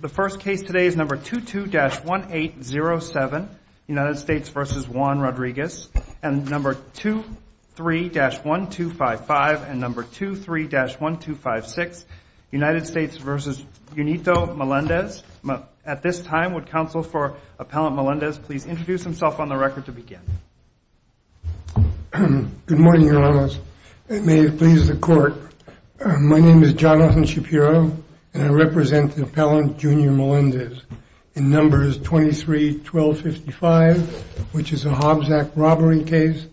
The first case today is number 22-1807, United States v. Juan Rodriguez, and number 23-1255 and number 23-1256, United States v. Junito Melendez. At this time, would counsel for Appellant Melendez please introduce himself on the record to begin? Good morning, Your Honors. And may it please the Court, my name is Jonathan Shapiro, and I represent the Appellant Junito Melendez in numbers 23-1255, which is a Hobbs Act robbery case,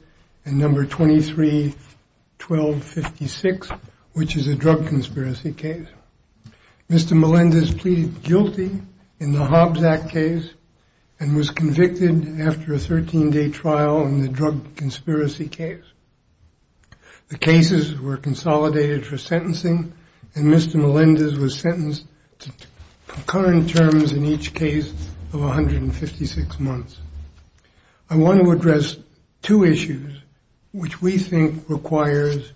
and number 23-1256, which is a drug conspiracy case. Mr. Melendez pleaded guilty in the Hobbs Act case and was convicted after a 13-day trial in the drug conspiracy case. The cases were consolidated for sentencing, and Mr. Melendez was sentenced to concurrent terms in each case of 156 months. I want to address two issues which we think requires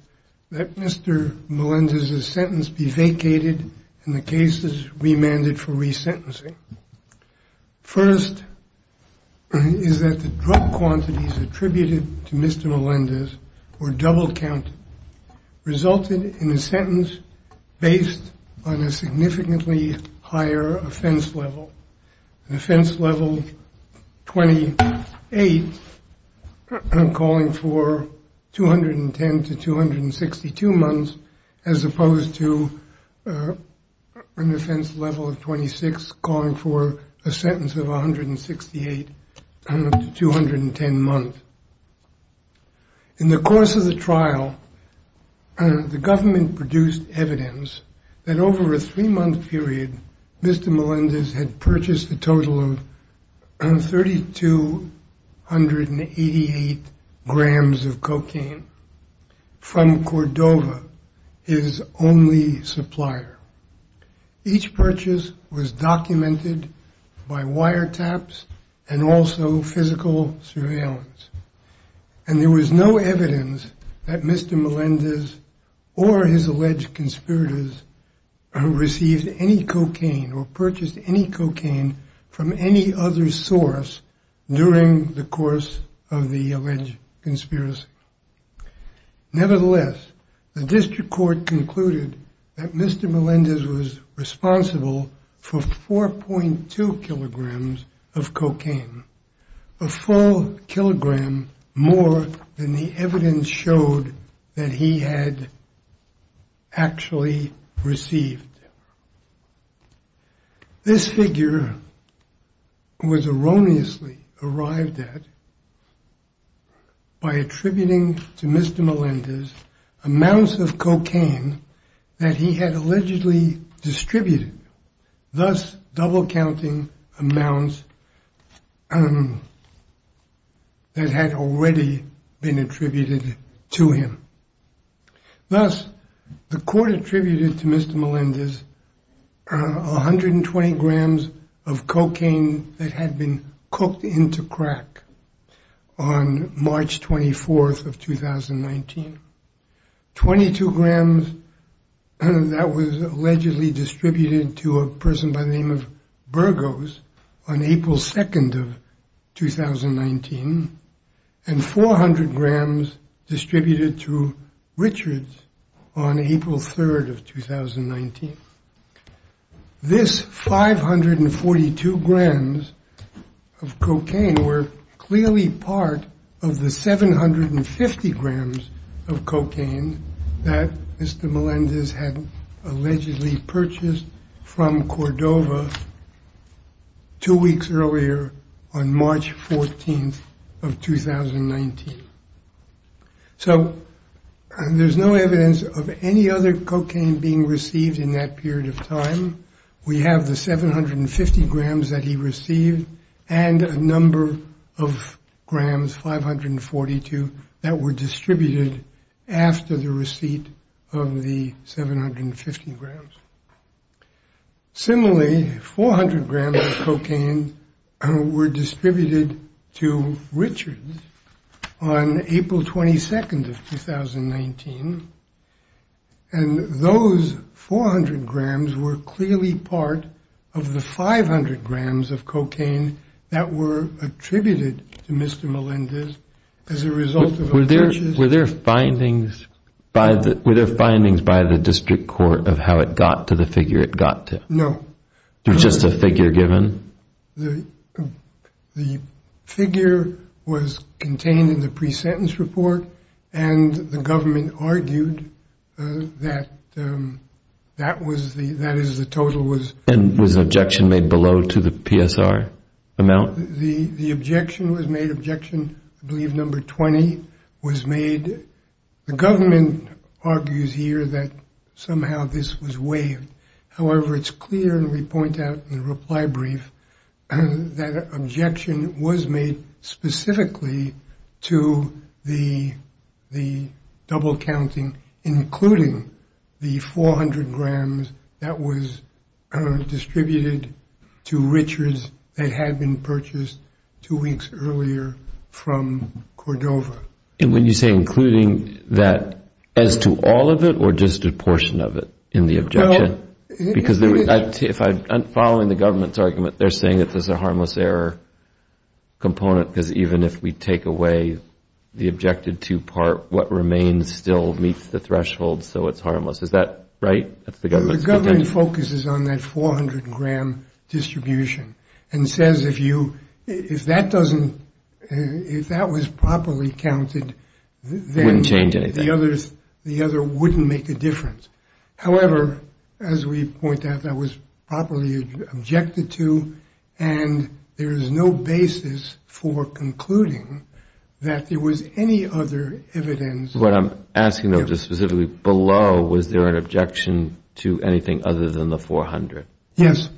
that Mr. Melendez's sentence be vacated and the cases remanded for resentencing. First, is that the drug quantities attributed to Mr. Melendez were double-counted, resulted in a sentence based on a significantly higher offense level, an offense level of 28, calling for 210 to 262 months, as opposed to an offense level of 26, calling for a sentence of 168 to 210 months. In the course of the trial, the government produced evidence that over a three-month period, Mr. Melendez had purchased a total of 3,288 grams of cocaine from Cordova, his only supplier. Each purchase was documented by wiretaps and also physical surveillance, and there was no evidence that Mr. Melendez or his alleged conspirators received any cocaine or purchased any cocaine from any other source during the course of the alleged conspiracy. Nevertheless, the district court concluded that Mr. Melendez was responsible for 4.2 of cocaine, a full kilogram more than the evidence showed that he had actually received. This figure was erroneously arrived at by attributing to Mr. Melendez amounts of cocaine that he had allegedly distributed, thus double-counting amounts that had already been attributed to him. Thus, the court attributed to Mr. Melendez 120 grams of cocaine that had been cooked into that was allegedly distributed to a person by the name of Burgos on April 2nd of 2019, and 400 grams distributed to Richards on April 3rd of 2019. This 542 grams of cocaine were clearly part of the 750 grams of cocaine that Mr. Melendez had allegedly purchased from Cordova two weeks earlier on March 14th of 2019. So, there's no evidence of any other cocaine being received in that period of time. We have the 750 grams that he received and a number of grams, 542, that were distributed after the receipt of the 750 grams. Similarly, 400 grams of cocaine were distributed to Richards on April 22nd of 2019, and those 400 grams were clearly part of the 500 grams of cocaine that were attributed to Mr. Melendez as a result of a purchase. Were there findings by the district court of how it got to the figure it got to? No. It was just a figure given? The figure was contained in the pre-sentence report, and the government argued that that was the total was- And was objection made below to the PSR amount? The objection was made. Objection, I believe, number 20 was made. The government argues here that somehow this was waived. However, it's clear, and we point out in the reply brief, that objection was made specifically to the double counting, including the 400 grams that was distributed to Richards that had been purchased two weeks earlier from Cordova. And when you say including that, as to all of it or just a portion of it in the objection? Because if I'm following the government's argument, they're saying that there's a harmless error component, because even if we take away the objected to part, what remains still meets the threshold, so it's harmless. Is that right? The government focuses on that 400 gram distribution and says, if that was properly counted- It wouldn't change anything. The other wouldn't make a difference. However, as we point out, that was properly objected to, and there is no basis for concluding that there was any other evidence- What I'm asking though, just specifically below, was there an objection to anything other than the 400? Yes,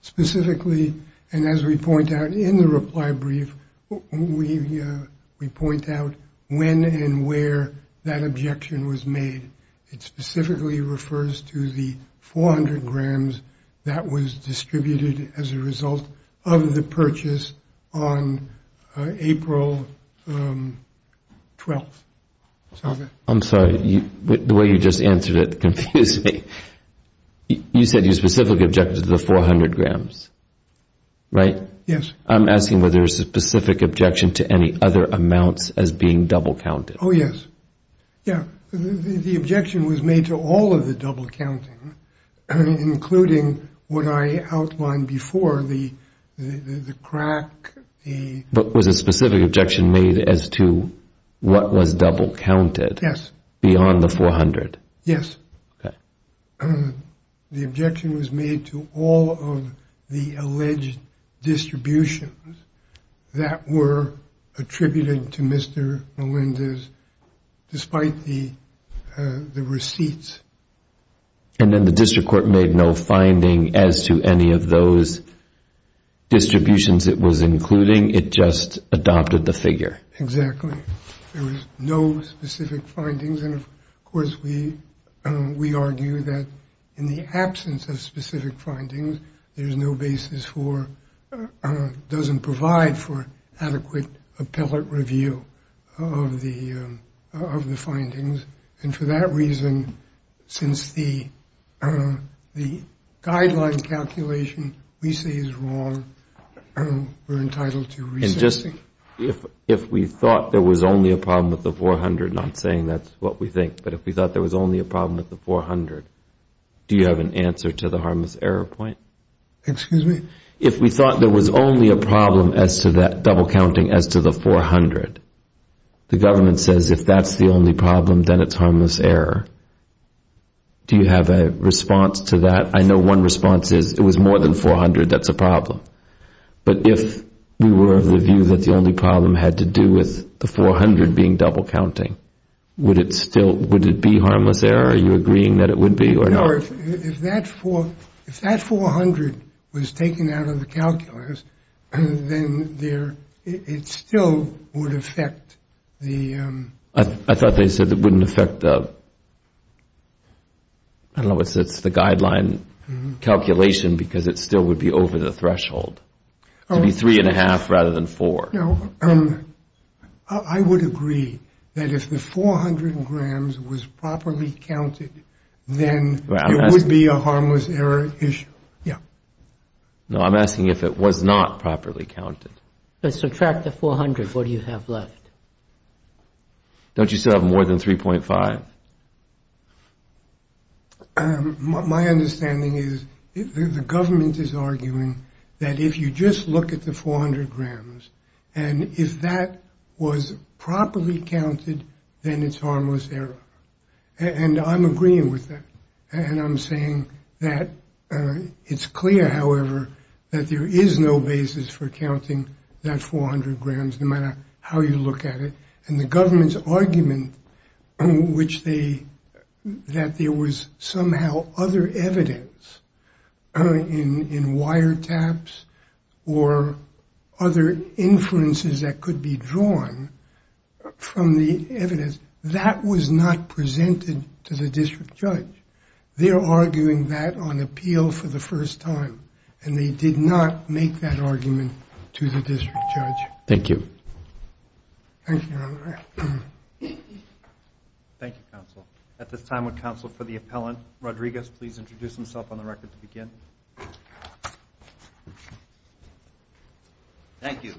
specifically, and as we point out in the reply brief, we point out when and where that objection was made. It specifically refers to the 400 grams that was distributed as a result of the purchase on April 12th. I'm sorry, the way you just answered it confused me. You said you specifically objected to the 400 grams, right? Yes. I'm asking whether there's a specific objection to any other amounts as being double counted. Oh, yes. Yeah, the objection was made to all of the double counting, including what I outlined before, the crack, the- But was a specific objection made as to what was double counted? Yes. Beyond the 400? Yes. The objection was made to all of the alleged distributions that were attributed to Mr. Melendez, despite the receipts. And then the district court made no finding as to any of those distributions it was including. It just adopted the figure. Exactly. There was no specific findings. And of course, we argue that in the absence of specific findings, there's no basis for, doesn't provide for adequate appellate review of the findings. And for that reason, since the guideline calculation we say is wrong, we're entitled to- If we thought there was only a problem with the 400, not saying that's what we think, but if we thought there was only a problem with the 400, do you have an answer to the harmless error point? Excuse me? If we thought there was only a problem as to that double counting as to the 400, the harmless error, do you have a response to that? I know one response is it was more than 400. That's a problem. But if we were of the view that the only problem had to do with the 400 being double counting, would it be harmless error? Are you agreeing that it would be or not? No. If that 400 was taken out of the calculus, then it still would affect the- I thought they said it wouldn't affect the- I don't know if it's the guideline calculation because it still would be over the threshold. It would be three and a half rather than four. No. I would agree that if the 400 grams was properly counted, then it would be a harmless error issue. Yeah. No, I'm asking if it was not properly counted. But subtract the 400, what do you have left? Don't you still have more than 3.5? My understanding is the government is arguing that if you just look at the 400 grams and if that was properly counted, then it's harmless error. And I'm agreeing with that. And I'm saying that it's clear, however, that there is no basis for counting that 400 grams no matter how you look at it. And the government's argument that there was somehow other evidence in wiretaps or other inferences that could be drawn from the evidence, that was not presented to the district judge. They're arguing that on appeal for the first time. And they did not make that argument to the district judge. Thank you. Thank you, Your Honor. Thank you, counsel. At this time, would counsel for the appellant, Rodriguez, please introduce himself on the record to begin? Thank you.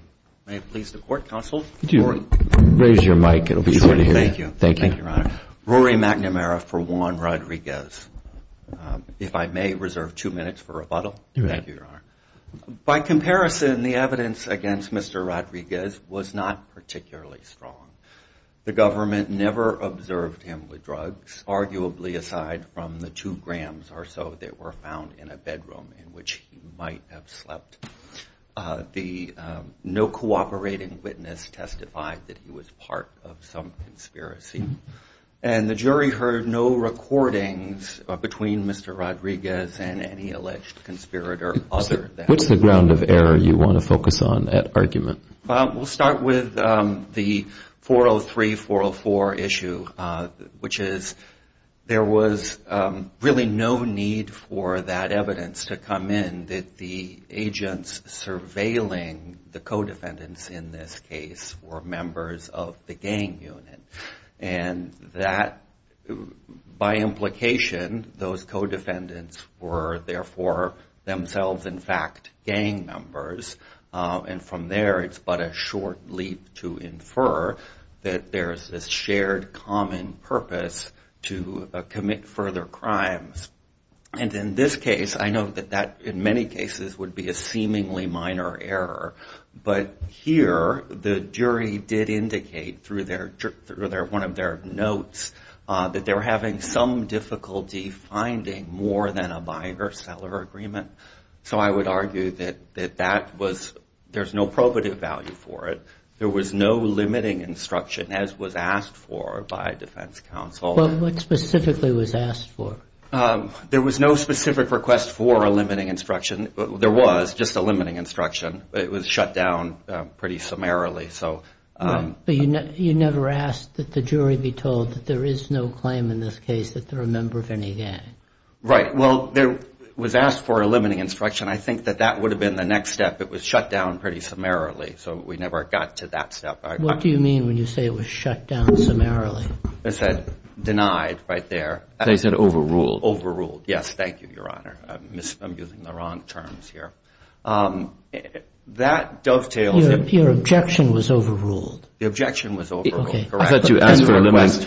May it please the court, counsel. Raise your mic. It'll be easier to hear. Thank you. Thank you, Your Honor. Rory McNamara for Juan Rodriguez. If I may reserve two minutes for rebuttal. You may. Thank you, Your Honor. By comparison, the evidence against Mr. Rodriguez was not particularly strong. The government never observed him with drugs, arguably aside from the two grams or so that were found in a bedroom in which he might have slept. The no cooperating witness testified that he was part of some conspiracy. And the jury heard no recordings between Mr. Rodriguez and any alleged conspirator other than him. What's the ground of error you want to focus on that argument? We'll start with the 403-404 issue, which is there was really no need for that evidence to come in that the agents surveilling the co-defendants in this case were members of the gang unit. And that, by implication, those co-defendants were, therefore, themselves, in fact, gang members. And from there, it's but a short leap to infer that there's this shared common purpose to commit further crimes. And in this case, I know that that, in many cases, would be a seemingly minor error. But here, the jury did indicate through one of their notes that they were having some difficulty finding more than a buyer-seller agreement. So I would argue that there's no probative value for it. There was no limiting instruction, as was asked for by defense counsel. What specifically was asked for? There was no specific request for a limiting instruction. There was just a limiting instruction. It was shut down pretty summarily. So you never asked that the jury be told that there is no claim in this case that they're a member of any gang. Right. Well, there was asked for a limiting instruction. I think that that would have been the next step. It was shut down pretty summarily. So we never got to that step. What do you mean when you say it was shut down summarily? I said denied right there. They said overruled. Overruled. Yes, thank you, Your Honor. I'm using the wrong terms here. That dovetails. Your objection was overruled. The objection was overruled, correct. I thought you asked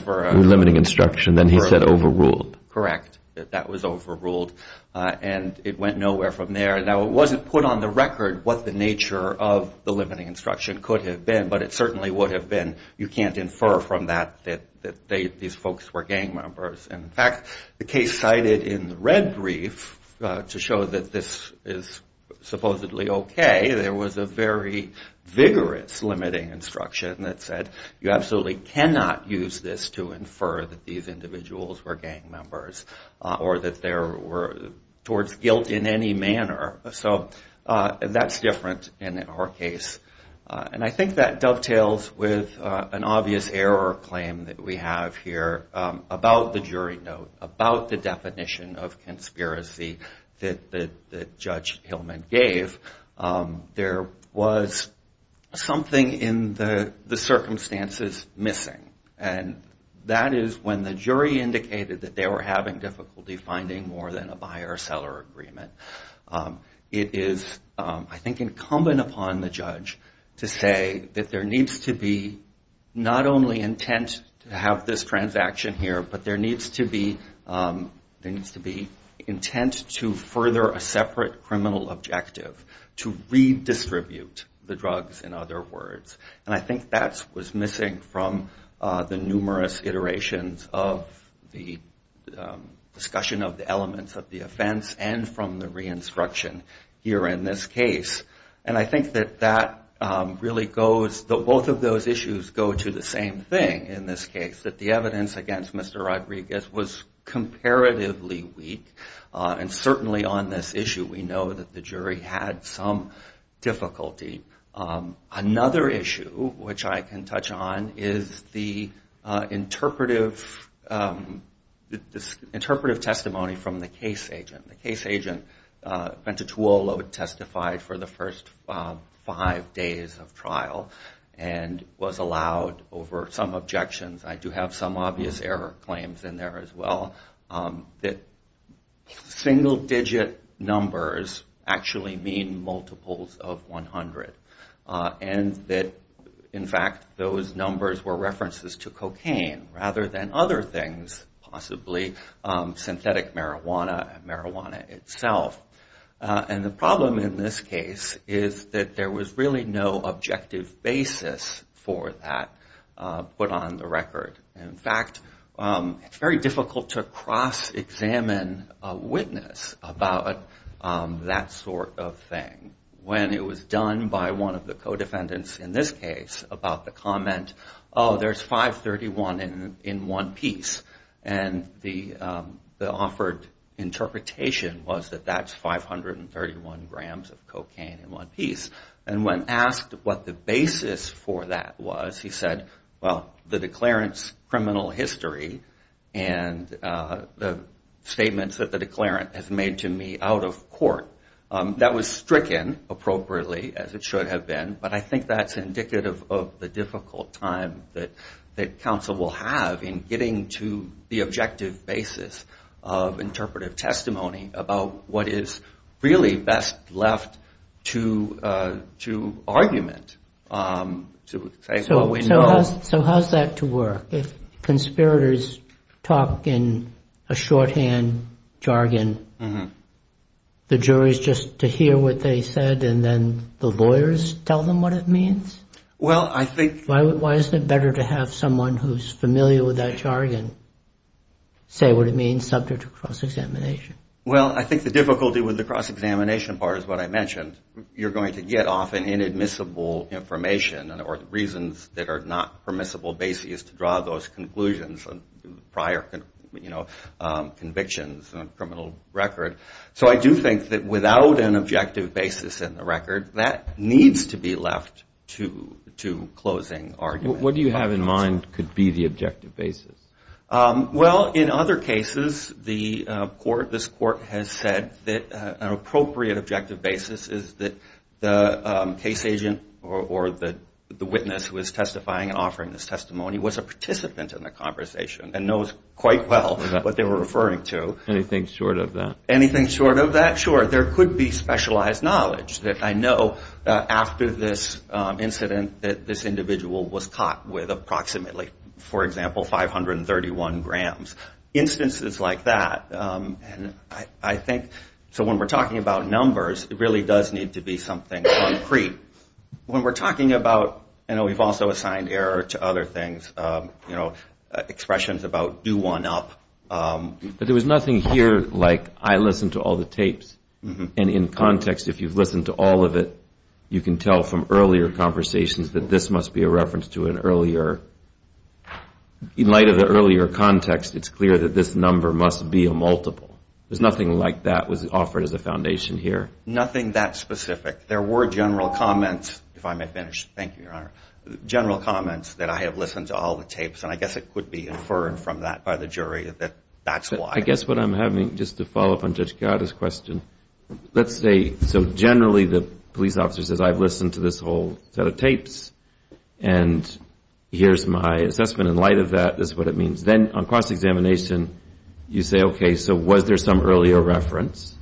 for a limiting instruction, then he said overruled. Correct. That was overruled, and it went nowhere from there. Now, it wasn't put on the record what the nature of the limiting instruction could have been, but it certainly would have been. You can't infer from that that these folks were gang members. In fact, the case cited in the red brief to show that this is supposedly okay, there was a very vigorous limiting instruction that said, you absolutely cannot use this to infer that these individuals were gang members or that they were towards guilt in any manner. So that's different in our case, and I think that dovetails with an obvious error claim that we have here about the jury note, about the definition of conspiracy that Judge Hillman gave. There was something in the circumstances missing, and that is when the jury indicated that they were having difficulty finding more than a buyer-seller agreement. It is, I think, incumbent upon the judge to say that there needs to be not only intent to have this transaction here, but there needs to be intent to further a separate criminal objective to redistribute the drugs, in other words. And I think that was missing from the numerous iterations of the discussion of the elements of the offense and from the re-instruction here in this case. And I think that both of those issues go to the same thing in this case, that the evidence against Mr. Rodriguez was comparatively weak. And certainly on this issue, we know that the jury had some difficulty. Another issue, which I can touch on, is the interpretive testimony from the case agent. Bente Tuolo had testified for the first five days of trial and was allowed, over some objections, I do have some obvious error claims in there as well, that single-digit numbers actually mean multiples of 100. And that, in fact, those numbers were references to cocaine rather than other things, possibly synthetic marijuana and marijuana itself. And the problem in this case is that there was really no objective basis for that put on the record. In fact, it's very difficult to cross-examine a witness about that sort of thing. When it was done by one of the co-defendants in this case about the comment, oh, there's 531 in one piece. And the offered interpretation was that that's 531 grams of cocaine in one piece. And when asked what the basis for that was, he said, well, the declarant's criminal history and the statements that the declarant has made to me out of court, that was stricken appropriately, as it should have been. But I think that's indicative of the difficult time that counsel will have in getting to the objective basis of interpretive testimony about what is really best left to argument. So how's that to work? If conspirators talk in a shorthand jargon, the jury's just to hear what they said and the lawyers tell them what it means? Why isn't it better to have someone who's familiar with that jargon say what it means subject to cross-examination? Well, I think the difficulty with the cross-examination part is what I mentioned. You're going to get off an inadmissible information or reasons that are not permissible basis to draw those conclusions on prior convictions on a criminal record. So I do think that without an objective basis in the record, that needs to be left to closing argument. What do you have in mind could be the objective basis? Well, in other cases, this court has said that an appropriate objective basis is that the case agent or the witness who is testifying and offering this testimony was a participant in the conversation and knows quite well what they were referring to. Anything short of that? Anything short of that? Sure. There could be specialized knowledge that I know that after this incident that this individual was caught with approximately, for example, 531 grams. Instances like that. So when we're talking about numbers, it really does need to be something concrete. When we're talking about, I know we've also assigned error to other things, expressions about do one up. But there was nothing here like, I listened to all the tapes. And in context, if you've listened to all of it, you can tell from earlier conversations that this must be a reference to an earlier. In light of the earlier context, it's clear that this number must be a multiple. There's nothing like that was offered as a foundation here. Nothing that specific. There were general comments, if I may finish. Thank you, Your Honor. General comments that I have listened to all the tapes. And I guess it could be inferred from that by the jury that that's why. I guess what I'm having, just to follow up on Judge Chiara's question, let's say, so generally the police officer says, I've listened to this whole set of tapes. And here's my assessment in light of that is what it means. Then on cross-examination, you say, OK, so was there some earlier reference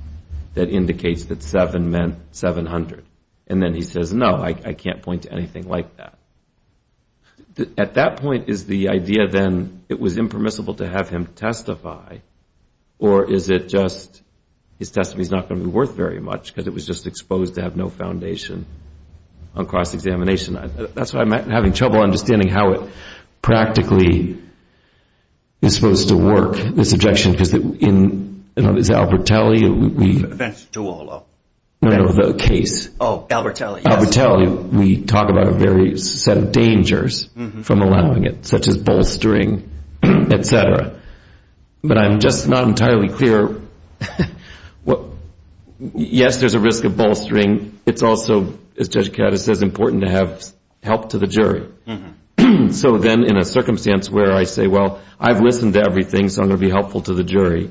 that indicates that seven meant 700? And then he says, no, I can't point to anything like that. But at that point, is the idea then it was impermissible to have him testify? Or is it just his testimony is not going to be worth very much because it was just exposed to have no foundation on cross-examination? That's why I'm having trouble understanding how it practically is supposed to work, this objection. Because in Albertalli, we talk about a very set of dangers from allowing it, such as bolstering, et cetera. But I'm just not entirely clear. Yes, there's a risk of bolstering. It's also, as Judge Chiara says, important to have help to the jury. So then in a circumstance where I say, well, I've listened to everything. So I'm going to be helpful to the jury.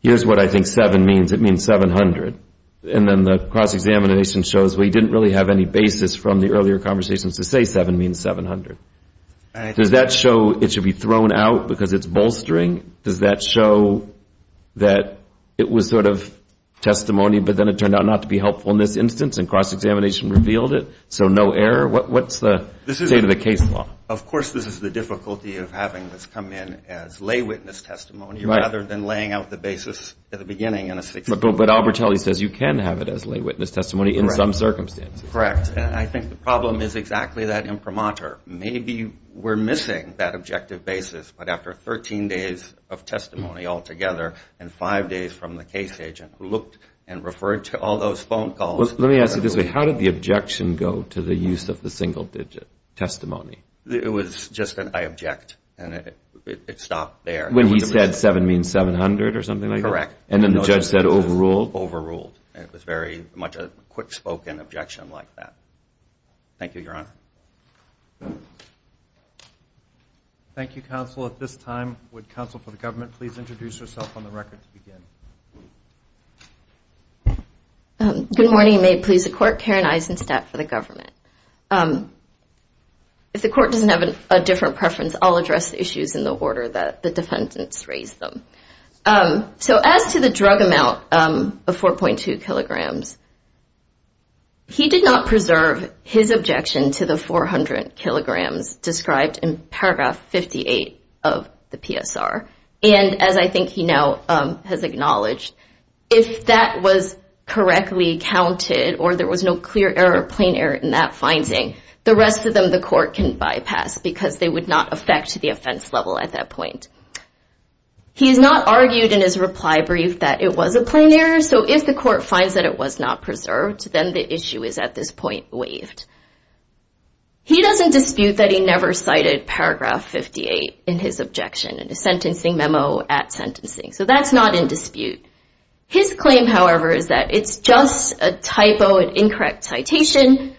Here's what I think seven means. It means 700. And then the cross-examination shows we didn't really have any basis from the earlier conversations to say seven means 700. Does that show it should be thrown out because it's bolstering? Does that show that it was sort of testimony, but then it turned out not to be helpful in this instance and cross-examination revealed it? So no error? What's the state of the case law? Of course, this is the difficulty of having this come in as lay witness testimony rather than laying out the basis at the beginning. But Albertalli says you can have it as lay witness testimony in some circumstances. Correct. And I think the problem is exactly that imprimatur. Maybe we're missing that objective basis. But after 13 days of testimony altogether and five days from the case agent who looked and referred to all those phone calls. Let me ask you this way. How did the objection go to the use of the single digit testimony? It was just an I object. And it stopped there. When he said seven means 700 or something like that? Correct. And then the judge said overruled? Overruled. And it was very much a quick spoken objection like that. Thank you, Your Honor. Thank you, counsel. At this time, would counsel for the government please introduce yourself on the record to begin? Good morning. May it please the court. Karen Eisenstadt for the government. If the court doesn't have a different preference, I'll address the issues in the order that the defendants raised them. So as to the drug amount of 4.2 kilograms, he did not preserve his objection to the 400 kilograms described in paragraph 58 of the PSR. And as I think he now has acknowledged, if that was correctly counted or there was no clear error or plain error in that finding, the rest of them the court can bypass because they would not affect the offense level at that point. He has not argued in his reply brief that it was a plain error. So if the court finds that it was not preserved, then the issue is at this point waived. He doesn't dispute that he never cited paragraph 58 in his objection in the sentencing memo at sentencing. So that's not in dispute. His claim, however, is that it's just a typo, an incorrect citation.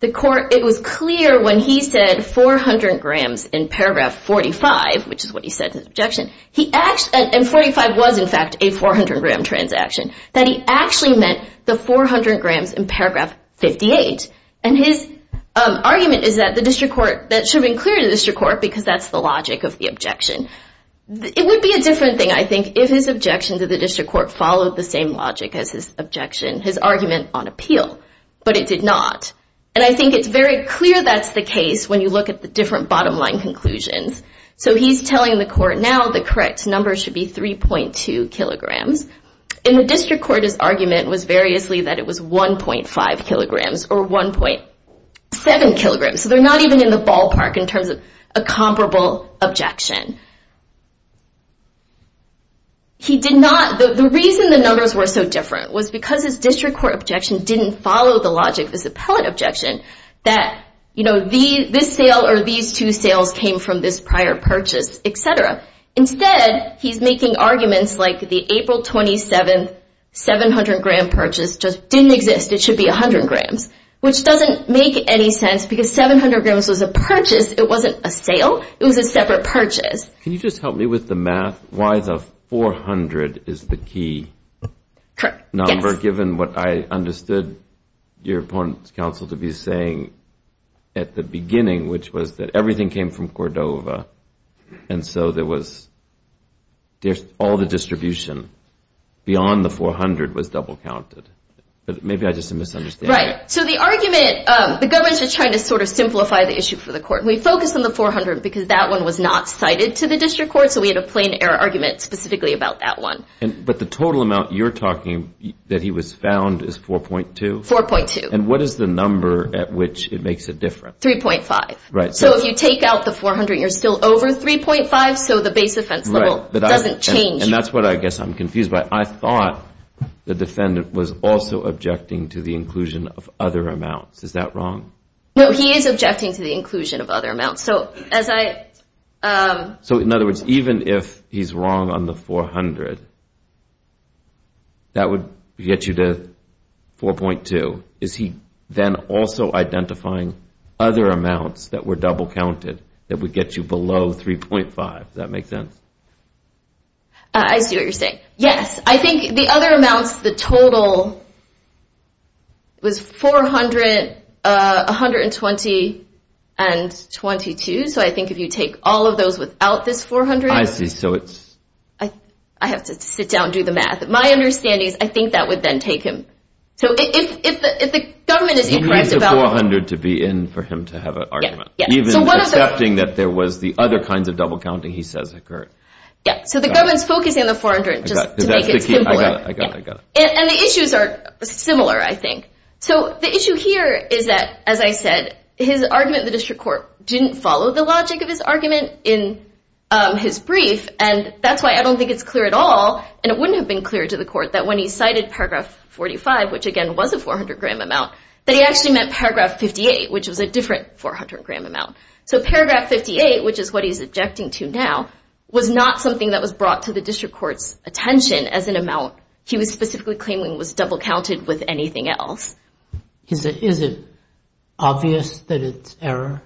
The court, it was clear when he said 400 grams in paragraph 45, which is what he said in his objection, and 45 was, in fact, a 400 gram transaction, that he actually meant the 400 grams in paragraph 58. And his argument is that the district court, that should have been clear to the district court because that's the logic of the objection. It would be a different thing, I think, if his objection to the district court followed the same logic as his objection, his argument on appeal. But it did not. And I think it's very clear that's the case when you look at the different bottom line conclusions. So he's telling the court now the correct number should be 3.2 kilograms. In the district court, his argument was variously that it was 1.5 kilograms or 1.7 kilograms. So they're not even in the ballpark in terms of a comparable objection. He did not, the reason the numbers were so different was because his district court objection didn't follow the logic of his appellate objection that, you know, this sale or these two sales came from this prior purchase, et cetera. Instead, he's making arguments like the April 27, 700 gram purchase just didn't exist. It should be 100 grams, which doesn't make any sense because 700 grams was a purchase. It wasn't a sale. It was a separate purchase. Can you just help me with the math? Why the 400 is the key number, given what I understood your opponent's counsel to be at the beginning, which was that everything came from Cordova. And so there was all the distribution beyond the 400 was double counted. But maybe I just misunderstood. Right. So the argument, the government is trying to sort of simplify the issue for the court. We focus on the 400 because that one was not cited to the district court. So we had a plain error argument specifically about that one. But the total amount you're talking that he was found is 4.2? 4.2. And what is the number at which it makes a difference? 3.5. Right. So if you take out the 400, you're still over 3.5. So the base offense level doesn't change. And that's what I guess I'm confused by. I thought the defendant was also objecting to the inclusion of other amounts. Is that wrong? No, he is objecting to the inclusion of other amounts. So in other words, even if he's wrong on the 400, that would get you to 4.2. Is he then also identifying other amounts that were double counted that would get you below 3.5? Does that make sense? I see what you're saying. Yes. I think the other amounts, the total was 400, 120, and 22. So I think if you take all of those without this 400, I have to sit down and do the math. My understanding is I think that would then take him. So if the government is incorrect about it. He needs the 400 to be in for him to have an argument, even accepting that there was the other kinds of double counting he says occurred. Yeah. So the government's focusing on the 400 just to make it simpler. And the issues are similar, I think. So the issue here is that, as I said, his argument in the district court didn't follow the logic of his argument in his brief. And that's why I don't think it's clear at all, and it wouldn't have been clear to the court that when he cited paragraph 45, which again was a 400 gram amount, that he actually meant paragraph 58, which was a different 400 gram amount. So paragraph 58, which is what he's objecting to now, was not something that was brought to the district court's attention as an amount he was specifically claiming was double counted with anything else. Is it obvious that it's error?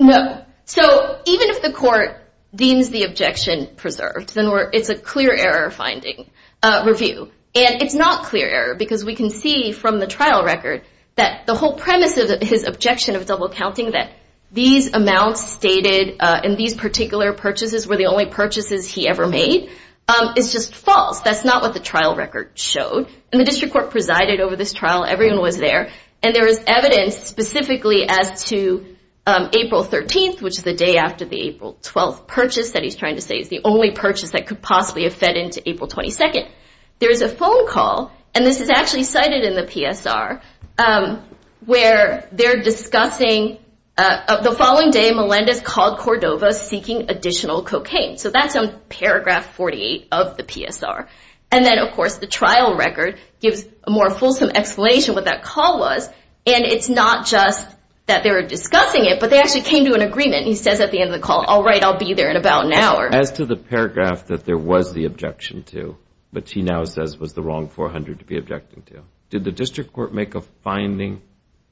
No. So even if the court deems the objection preserved, it's a clear error finding review. And it's not clear error, because we can see from the trial record that the whole premise of his objection of double counting, that these amounts stated in these particular purchases were the only purchases he ever made, is just false. That's not what the trial record showed. And the district court presided over this trial. Everyone was there. And there is evidence specifically as to April 13th, which is the day after the April 12th purchase, that he's trying to say is the only purchase that could possibly have fed into April 22nd. There is a phone call, and this is actually cited in the PSR, where they're discussing the following day, Melendez called Cordova seeking additional cocaine. So that's on paragraph 48 of the PSR. And then, of course, the trial record gives a more fulsome explanation what that call was. And it's not just that they were discussing it, but they actually came to an agreement. He says at the end of the call, all right, I'll be there in about an hour. As to the paragraph that there was the objection to, which he now says was the wrong 400 to be objecting to, did the district court make a finding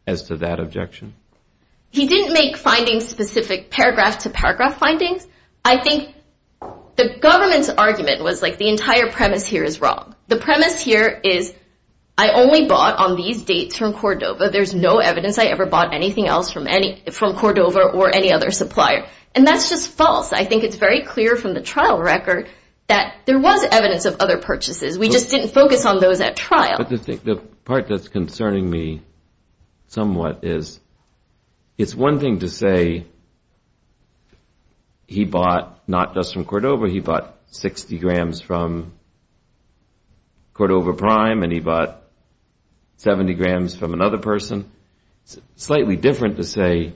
as to that objection? He didn't make findings specific paragraph to paragraph findings. I think the government's argument was like the entire premise here is wrong. The premise here is I only bought on these dates from Cordova. There's no evidence I ever bought anything else from Cordova or any other supplier. And that's just false. I think it's very clear from the trial record that there was evidence of other purchases. We just didn't focus on those at trial. But the part that's concerning me somewhat is, it's one thing to say he bought not just from Cordova, he bought 60 grams from Cordova Prime, and he bought 70 grams from another person. It's slightly different to say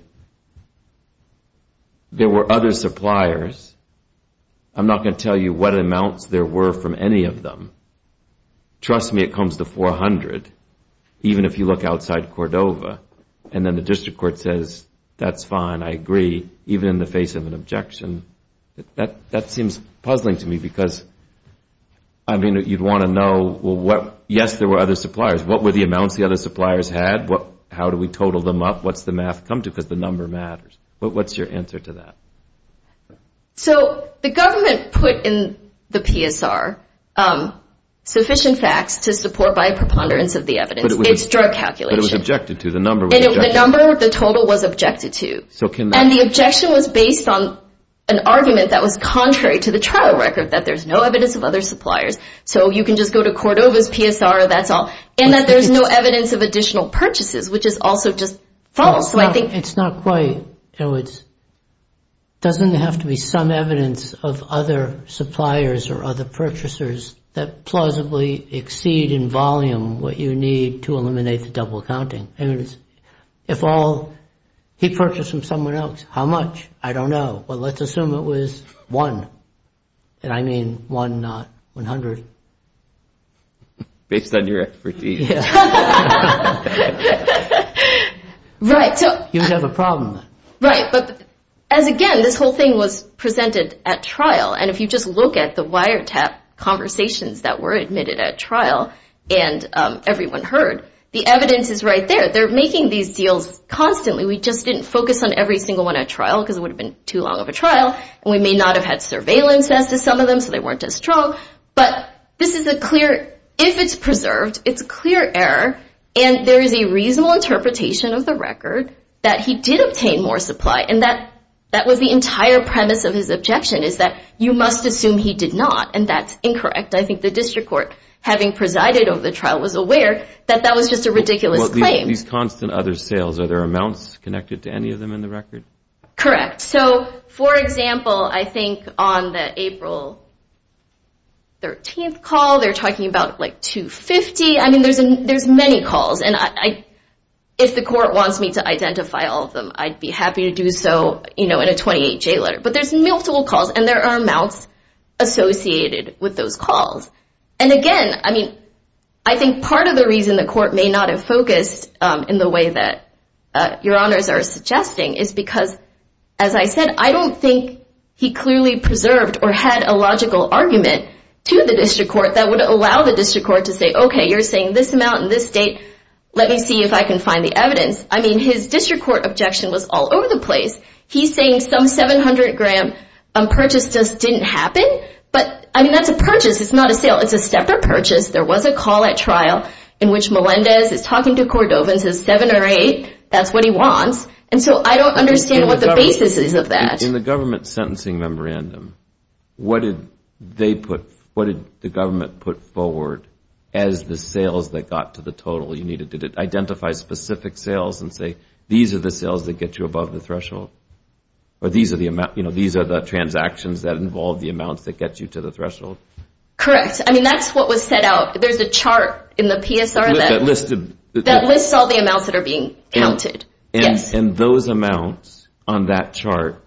there were other suppliers. I'm not going to tell you what amounts there were from any of them. Trust me, it comes to 400, even if you look outside Cordova. And then the district court says, that's fine, I agree, even in the face of an objection. That seems puzzling to me because, I mean, you'd want to know, well, yes, there were other suppliers. What were the amounts the other suppliers had? How do we total them up? What's the math come to? Because the number matters. But what's your answer to that? So the government put in the PSR sufficient facts to support by a preponderance of the evidence. It's drug calculation. But it was objected to. The number was objected to. The number, the total was objected to. And the objection was based on an argument that was contrary to the trial record, that there's no evidence of other suppliers. So you can just go to Cordova's PSR, that's all. And that there's no evidence of additional purchases, which is also just false. So I think it's not quite. In other words, it doesn't have to be some evidence of other suppliers or other purchasers that plausibly exceed in volume what you need to eliminate the double counting. If all he purchased from someone else, how much? I don't know. Well, let's assume it was one. And I mean one, not 100. Based on your expertise. Yeah. Right. So you would have a problem then. Right. But as again, this whole thing was presented at trial. And if you just look at the wiretap conversations that were admitted at trial and everyone heard, the evidence is right there. They're making these deals constantly. We just didn't focus on every single one at trial because it would have been too long of a trial. And we may not have had surveillance as to some of them so they weren't as strong. But this is a clear, if it's preserved, it's clear error. And there is a reasonable interpretation of the record that he did obtain more supply. And that was the entire premise of his objection is that you must assume he did not. And that's incorrect. I think the district court, having presided over the trial, was aware that that was just a ridiculous claim. These constant other sales, are there amounts connected to any of them in the record? Correct. So for example, I think on the April 13 call, they're talking about like 250. I mean, there's many calls. And if the court wants me to identify all of them, I'd be happy to do so in a 28-J letter. But there's multiple calls. And there are amounts associated with those calls. And again, I mean, I think part of the reason the court may not have focused in the way that your honors are suggesting is because, as I said, I don't think he clearly preserved or had a logical argument to the district court that would allow the district court to say, OK, you're saying this amount in this state. Let me see if I can find the evidence. I mean, his district court objection was all over the place. He's saying some 700-gram purchase just didn't happen. But I mean, that's a purchase. It's not a sale. It's a separate purchase. There was a call at trial in which Melendez is talking to Cordovan, says seven or eight. That's what he wants. And so I don't understand what the basis is of that. In the government sentencing memorandum, what did they put? What did the government put forward as the sales that got to the total you needed? Did it identify specific sales and say, these are the sales that get you above the threshold? Or these are the transactions that involve the amounts that get you to the threshold? Correct. I mean, that's what was set out. There's a chart in the PSR that lists all the amounts that are being counted. And those amounts on that chart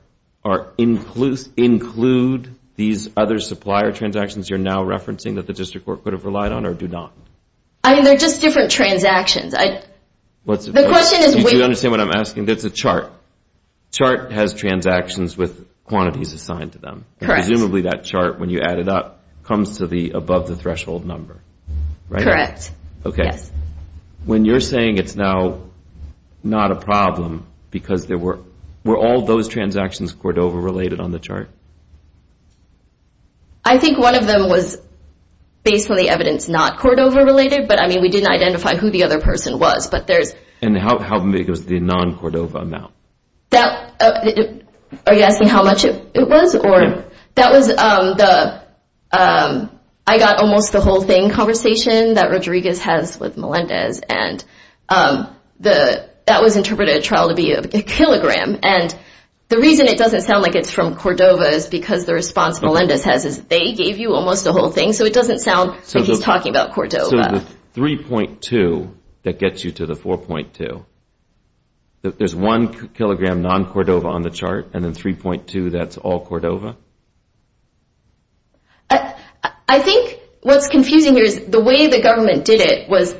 include these other supplier transactions you're now referencing that the district court could have relied on or do not? I mean, they're just different transactions. The question is, wait. Do you understand what I'm asking? It's a chart. Chart has transactions with quantities assigned to them. Correct. Presumably that chart, when you add it up, comes to the above the threshold number. Correct. OK. When you're saying it's now not a problem, because there were all those transactions Cordova related on the chart? I think one of them was, based on the evidence, not Cordova related. But I mean, we didn't identify who the other person was. And how big was the non-Cordova amount? Are you asking how much it was? I got almost the whole thing conversation that Rodriguez has with Melendez. And that was interpreted at trial to be a kilogram. And the reason it doesn't sound like it's from Cordova is because the response Melendez has is they gave you almost the whole thing. So it doesn't sound like he's talking about Cordova. So the 3.2, that gets you to the 4.2. There's one kilogram non-Cordova on the chart. And then 3.2, that's all Cordova? I think what's confusing here is the way the government did it was,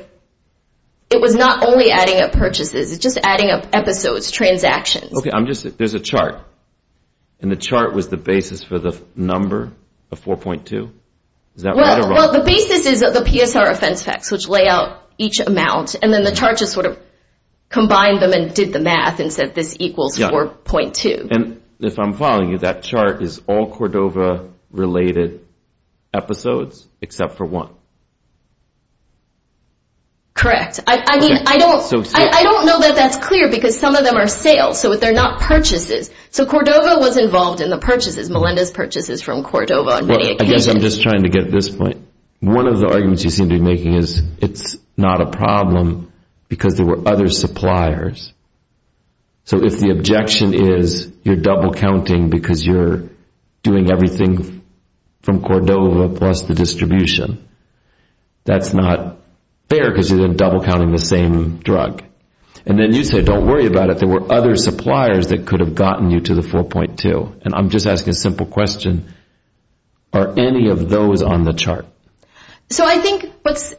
it was not only adding up purchases. It's just adding up episodes, transactions. OK, I'm just, there's a chart. And the chart was the basis for the number of 4.2? Is that right or wrong? Well, the basis is the PSR offense facts, which lay out each amount. And then the chart just sort of combined them and did the math and said this equals 4.2. And if I'm following you, that chart is all Cordova related episodes except for one. Correct. I mean, I don't know that that's clear because some of them are sales. So they're not purchases. So Cordova was involved in the purchases, Melinda's purchases from Cordova on many occasions. I guess I'm just trying to get this point. One of the arguments you seem to be making is it's not a problem because there were other suppliers. So if the objection is you're double counting because you're doing everything from Cordova plus the distribution, that's not fair because you're then double counting the same drug. And then you say, don't worry about it. There were other suppliers that could have gotten you to the 4.2. And I'm just asking a simple question. Are any of those on the chart? So I think what's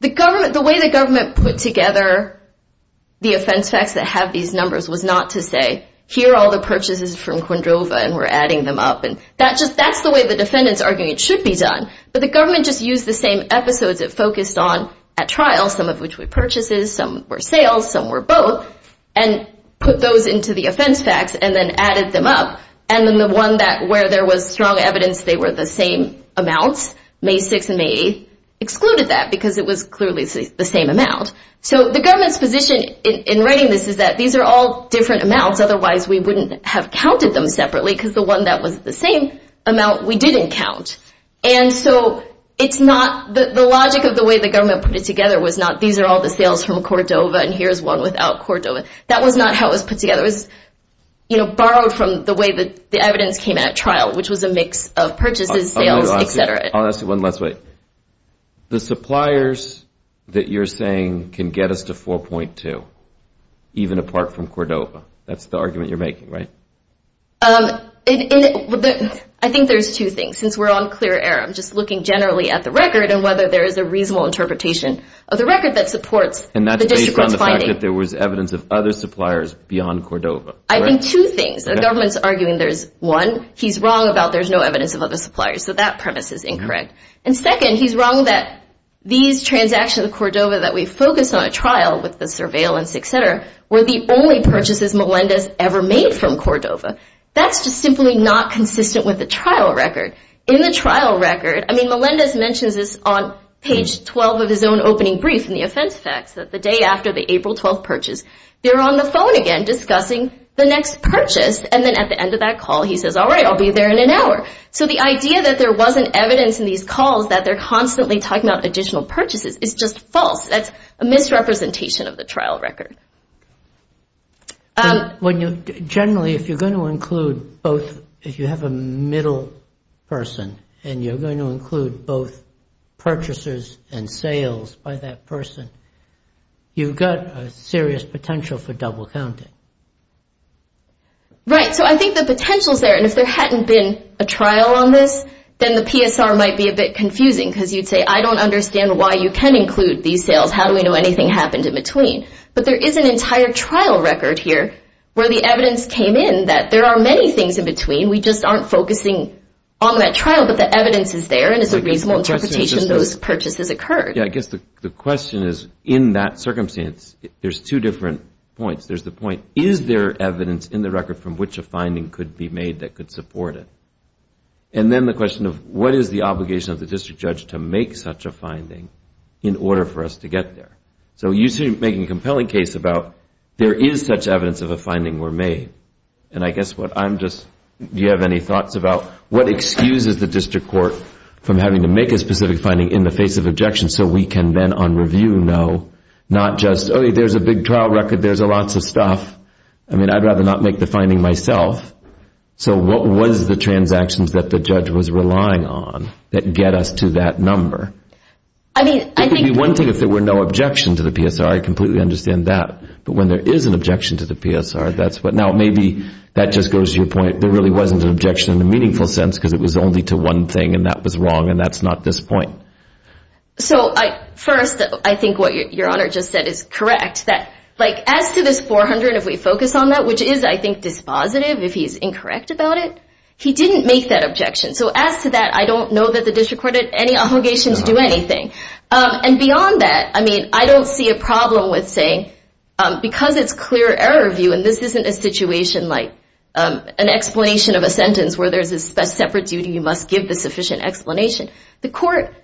the government, the way the government put together the offense facts that have these numbers was not to say here are all the purchases from Cordova and we're adding them up. And that's the way the defendant's arguing. It should be done. But the government just used the same episodes it focused on at trial, some of which were purchases, some were sales, some were both, and put those into the offense facts and then added them up. And then the one that where there was strong evidence they were the same amounts, May 6 and May 8, excluded that because it was clearly the same amount. So the government's position in writing this is that these are all different amounts. Otherwise, we wouldn't have counted them separately because the one that was the same amount we didn't count. And so it's not the logic of the way the government put it together was not these are all the sales from Cordova and here's one without Cordova. That was not how it was put together. It was borrowed from the way that the evidence came at trial, which was a mix of purchases, sales, et cetera. I'll ask you one last way. The suppliers that you're saying can get us to 4.2, even apart from Cordova. That's the argument you're making, right? And I think there's two things. Since we're on clear air, I'm just looking generally at the record and whether there is a reasonable interpretation of the record that supports the district's finding. And that's based on the fact that there was evidence of other suppliers beyond Cordova. I think two things. The government's arguing there's one, he's wrong about there's no evidence of other suppliers. So that premise is incorrect. And second, he's wrong that these transactions with Cordova that we focus on a trial with the surveillance, et cetera, were the only purchases Melendez ever made from Cordova. That's just simply not consistent with the trial record. In the trial record, I mean, Melendez mentions this on page 12 of his own opening brief in the offense facts that the day after the April 12th purchase, they're on the phone again discussing the next purchase. And then at the end of that call, he says, all right, I'll be there in an hour. So the idea that there wasn't evidence in these calls that they're constantly talking about additional purchases is just false. That's a misrepresentation of the trial record. Generally, if you're going to include both, if you have a middle person, and you're going to include both purchases and sales by that person, you've got a serious potential for double counting. Right. So I think the potential's there. And if there hadn't been a trial on this, then the PSR might be a bit confusing. Because you'd say, I don't understand why you can include these sales. How do we know anything happened in between? But there is an entire trial record here where the evidence came in that there are many things in between. We just aren't focusing on that trial. But the evidence is there. And it's a reasonable interpretation that those purchases occurred. Yeah, I guess the question is, in that circumstance, there's two different points. There's the point, is there evidence in the record from which a finding could be made that could support it? And then the question of, what is the obligation of the district judge to make such a finding in order for us to get there? So you seem to be making a compelling case about, there is such evidence if a finding were made. And I guess what I'm just, do you have any thoughts about, what excuses the district court from having to make a specific finding in the face of objection so we can then, on review, know not just, oh, there's a big trial record. There's lots of stuff. I mean, I'd rather not make the finding myself. So what was the transactions that the judge was relying on that get us to that number? I mean, I think. One thing, if there were no objection to the PSR, I completely understand that. But when there is an objection to the PSR, that's what. Now, maybe that just goes to your point. There really wasn't an objection in a meaningful sense because it was only to one thing. And that was wrong. And that's not this point. So first, I think what Your Honor just said is correct. As to this 400, if we focus on that, which is, I think, dispositive if he's incorrect about it, he didn't make that objection. So as to that, I don't know that the district court had any obligation to do anything. And beyond that, I mean, I don't see a problem with saying, because it's clear error view, and this isn't a situation like an explanation of a sentence where there's a separate duty, you must give the sufficient explanation. The court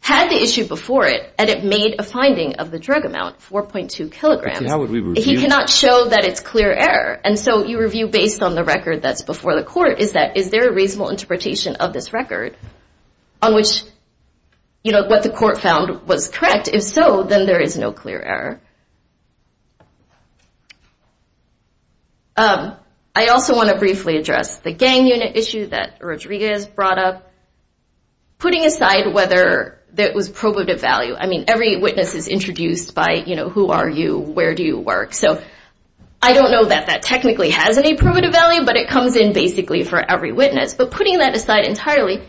had the issue before it, and it made a finding of the drug amount, 4.2 kilograms. But how would we review? He cannot show that it's clear error. And so you review based on the record that's before the court. Is there a reasonable interpretation of this record on which what the court found was correct? If so, then there is no clear error. I also want to briefly address the gang unit issue that Rodriguez brought up. Putting aside whether that was probative value, I mean, every witness is introduced by, you know, who are you? Where do you work? So I don't know that that technically has any probative value, but it comes in basically for every witness. But putting that aside entirely,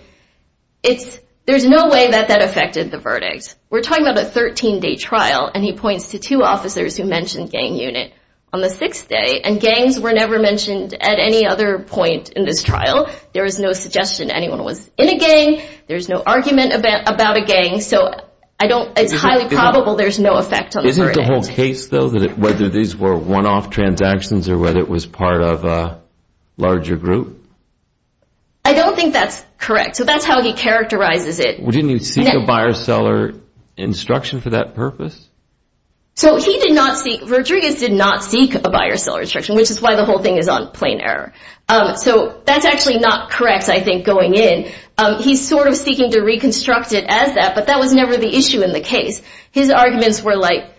it's, there's no way that that affected the verdict. We're talking about a 13-day trial, and he points to two officers who mentioned gang unit on the sixth day, and gangs were never mentioned at any other point in this trial. There is no suggestion anyone was in a gang. There's no argument about a gang. So I don't, it's highly probable there's no effect on the verdict. Isn't the whole case though, whether these were one-off transactions or whether it was part of a larger group? I don't think that's correct. So that's how he characterizes it. Well, didn't he seek a buyer-seller instruction for that purpose? So he did not seek, Rodriguez did not seek a buyer-seller instruction, which is why the whole thing is on plain error. So that's actually not correct, I think, going in. He's sort of seeking to reconstruct it as that, but that was never the issue in the case. His arguments were like,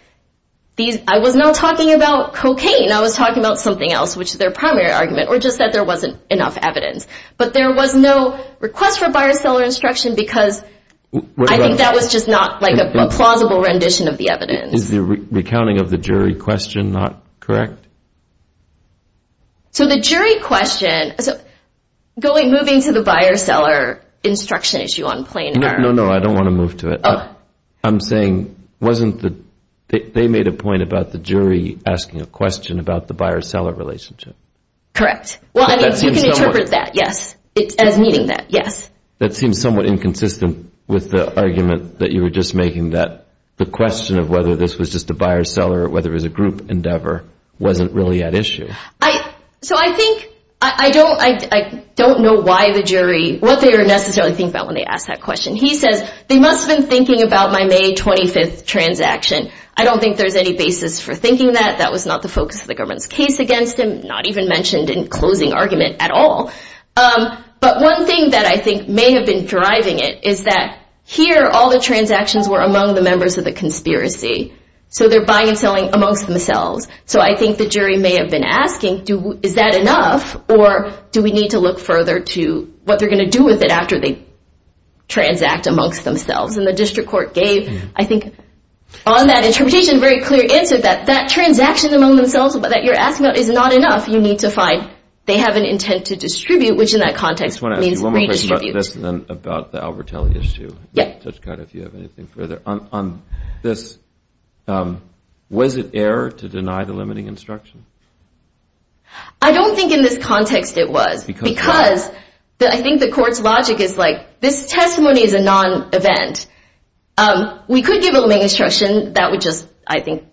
these, I was not talking about cocaine. I was talking about something else, which is their primary argument, or just that there wasn't enough cocaine. But there was no request for buyer-seller instruction because I think that was just not like a plausible rendition of the evidence. Is the recounting of the jury question not correct? So the jury question, going, moving to the buyer-seller instruction issue on plain error. No, no, I don't want to move to it. I'm saying, wasn't the, they made a point about the jury asking a question about the buyer-seller relationship. Correct. Well, I mean, you can interpret that, yes, as meeting that, yes. That seems somewhat inconsistent with the argument that you were just making, that the question of whether this was just a buyer-seller, or whether it was a group endeavor, wasn't really at issue. So I think, I don't know why the jury, what they were necessarily thinking about when they asked that question. He says, they must have been thinking about my May 25th transaction. I don't think there's any basis for thinking that. That was not the focus of the government's case against him, not even mentioned in closing argument at all. But one thing that I think may have been driving it is that here, all the transactions were among the members of the conspiracy. So they're buying and selling amongst themselves. So I think the jury may have been asking, is that enough? Or do we need to look further to what they're going to do with it after they transact amongst themselves? And the district court gave, I think, on that interpretation, a very clear answer that that transaction among themselves that you're asking about is not enough. You need to find they have an intent to distribute, which in that context means redistribute. I just want to ask you one more question about this, and then about the Albertelli issue. Yeah. Judge Codd, if you have anything further on this. Was it error to deny the limiting instruction? I don't think in this context it was, because I think the court's logic is like, this testimony is a non-event. We could give a limiting instruction. That would just, I think,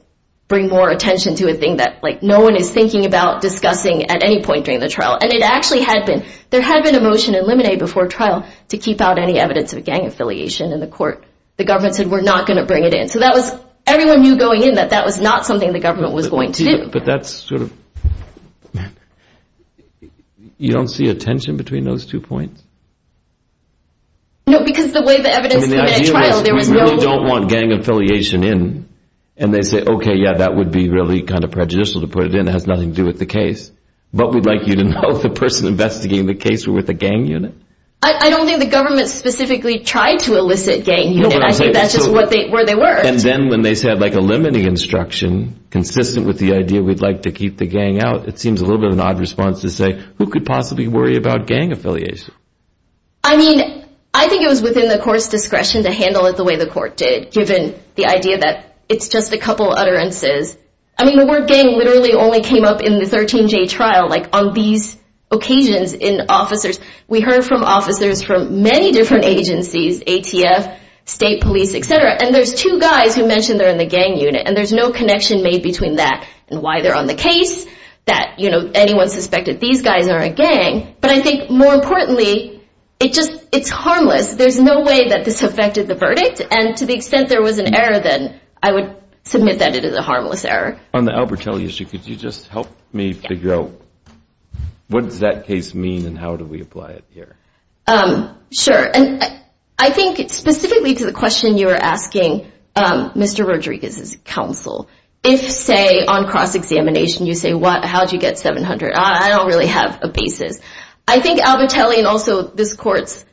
bring more attention to a thing that no one is thinking about discussing at any point during the trial. And it actually had been. There had been a motion in Limine before trial to keep out any evidence of gang affiliation in the court. The government said, we're not going to bring it in. So that was, everyone knew going in that that was not something the government was going to. But that's sort of, you don't see a tension between those two points? No, because the way the evidence came in at trial, there was no- We really don't want gang affiliation in. And they say, okay, yeah, that would be really kind of prejudicial to put it in. It has nothing to do with the case. But we'd like you to know the person investigating the case were with a gang unit? I don't think the government specifically tried to elicit gang unit. I think that's just where they were. And then when they said, like, a limiting instruction, consistent with the idea we'd like to keep the gang out, it seems a little bit of an odd response to say, who could possibly worry about gang affiliation? I mean, I think it was within the court's discretion to handle it the way the court did, given the idea that it's just a couple utterances. I mean, the word gang literally only came up in the 13-J trial, like, on these occasions in officers. We heard from officers from many different agencies, ATF, state police, et cetera. And there's two guys who mentioned they're in the gang unit. And there's no connection made between that and why they're on the case, that, you know, anyone suspected these guys are a gang. But I think, more importantly, it's harmless. There's no way that this affected the verdict. And to the extent there was an error, then I would submit that it is a harmless error. On the Albertelli issue, could you just help me figure out what does that case mean and how do we apply it here? Sure. And I think specifically to the question you were asking, Mr. Rodriguez's counsel, if, say, on cross-examination, you say, what, how'd you get 700? I don't really have a basis. I think Albertelli and also this court's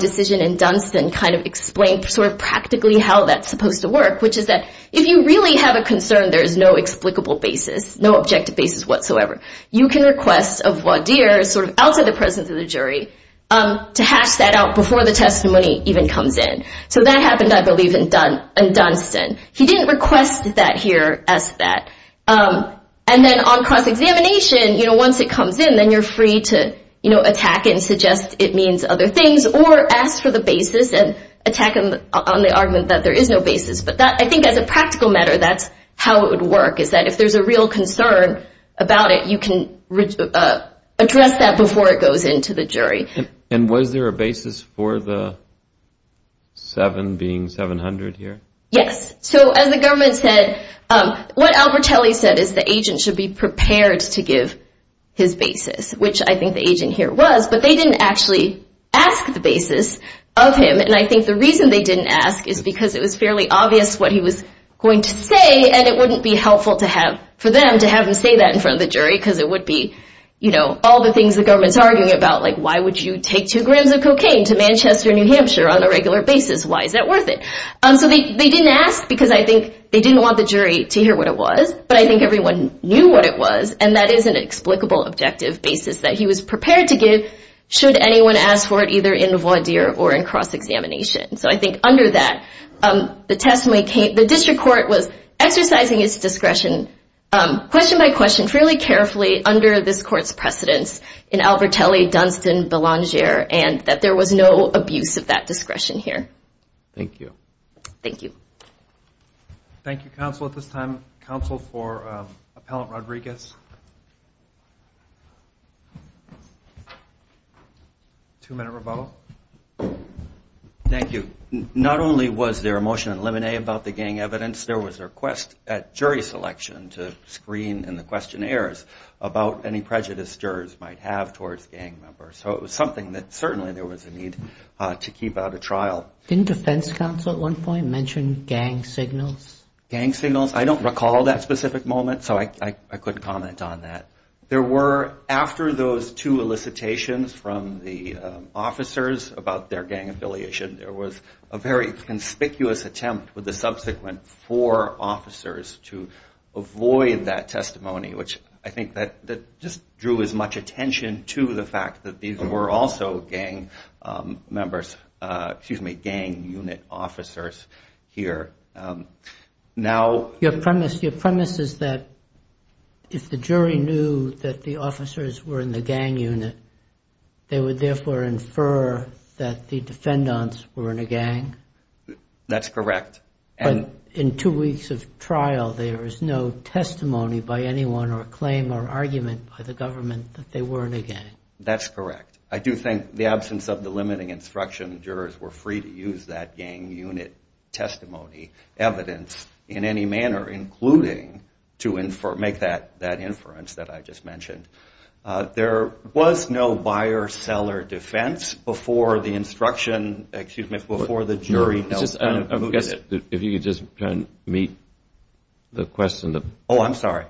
decision in Dunstan kind of explained sort of practically how that's supposed to work, which is that if you really have a concern, there is no explicable basis, no objective basis whatsoever. You can request of voir dire, sort of outside the presence of the jury, to hash that out before the testimony even comes in. So that happened, I believe, in Dunstan. He didn't request that here as that. And then on cross-examination, you know, once it comes in, then you're free to, you know, attack it and suggest it means other things or ask for the basis and attack him on the argument that there is no basis. But I think as a practical matter, that's how it would work, is that if there's a real concern about it, you can address that before it goes into the jury. And was there a basis for the seven being 700 here? Yes. So as the government said, what Albertelli said is the agent should be prepared to give his basis, which I think the agent here was, but they didn't actually ask the basis of him. And I think the reason they didn't ask is because it was fairly obvious what he was going to say, and it wouldn't be helpful for them to have him say that in front of the jury because it would be, you know, all the things the government's arguing about, like why would you take two grams of cocaine to Manchester, New Hampshire on a regular basis? Why is that worth it? So they didn't ask because I think they didn't want the jury to hear what it was, but I think everyone knew what it was. And that is an explicable objective basis that he was prepared to give, should anyone ask for it, either in voir dire or in cross-examination. So I think under that, the testimony came, the district court was exercising its discretion question by question fairly carefully under this court's precedence in Albertelli, Dunstan, Belanger, and that there was no abuse of that discretion here. Thank you. Thank you. Thank you, counsel. At this time, counsel for Appellant Rodriguez. Two-minute rebuttal. Thank you. Not only was there a motion in limine about the gang evidence, there was a request at jury selection to screen in the questionnaires about any prejudice jurors might have towards gang members. So it was something that certainly there was a need to keep out of trial. Didn't defense counsel at one point mention gang signals? Gang signals? I don't recall that specific moment, so I couldn't comment on that. There were, after those, two elicitations from the officers about their gang affiliation, there was a very conspicuous attempt with the subsequent four officers to avoid that testimony, which I think that just drew as much attention to the fact that these were also gang members, excuse me, gang unit officers here. Now- Your premise is that if the jury knew that the officers were in the gang unit, they would therefore infer that the defendants were in a gang? That's correct. But in two weeks of trial, there is no testimony by anyone or a claim or argument by the government that they were in a gang. That's correct. I do think the absence of the limiting instruction, jurors were free to use that gang unit testimony, evidence in any manner, including to make that inference that I just mentioned. There was no buyer-seller defense before the instruction, excuse me, before the jury- If you could just try and meet the question. Oh, I'm sorry.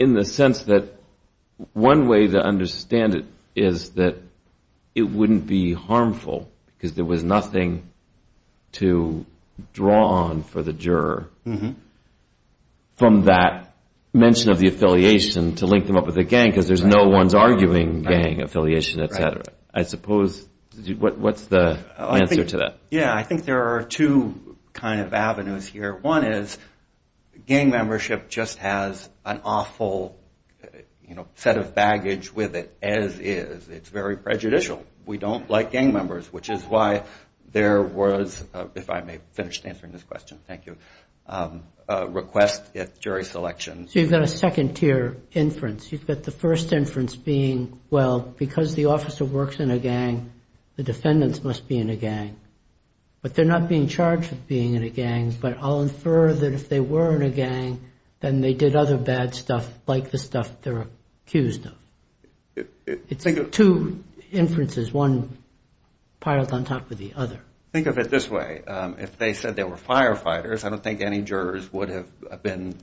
In the sense that one way to understand it is that it wouldn't be harmful because there was nothing to draw on for the juror from that mention of the affiliation to link them up with the gang because there's no one's arguing gang affiliation, et cetera. I suppose, what's the answer to that? Yeah, I think there are two kind of avenues here. One is gang membership just has an awful set of baggage with it as is. It's very prejudicial. We don't like gang members, which is why there was, if I may finish answering this question, thank you, a request at jury selection. So you've got a second tier inference. You've got the first inference being, well, because the officer works in a gang, the defendants must be in a gang. But they're not being charged with being in a gang, but I'll infer that if they were in a gang, then they did other bad stuff like the stuff they're accused of. It's two inferences, one piled on top of the other. Think of it this way. If they said they were firefighters, I don't think any jurors would have been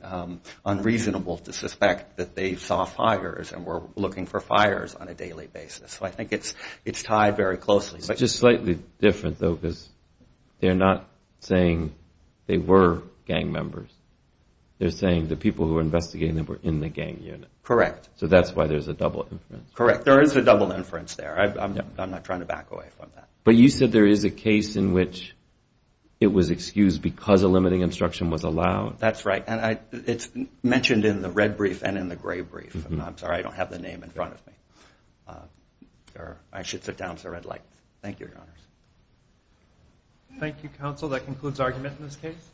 unreasonable to suspect that they saw fires and were looking for fires on a daily basis. So I think it's tied very closely. It's just slightly different though because they're not saying they were gang members. They're saying the people who were investigating them were in the gang unit. Correct. So that's why there's a double inference. Correct. There is a double inference there. I'm not trying to back away from that. But you said there is a case in which it was excused because a limiting instruction was allowed. That's right. It's mentioned in the red brief and in the gray brief. I'm sorry I don't have the name in front of me. I should sit down. It's a red light. Thank you, Your Honors. Thank you, counsel. That concludes argument in this case.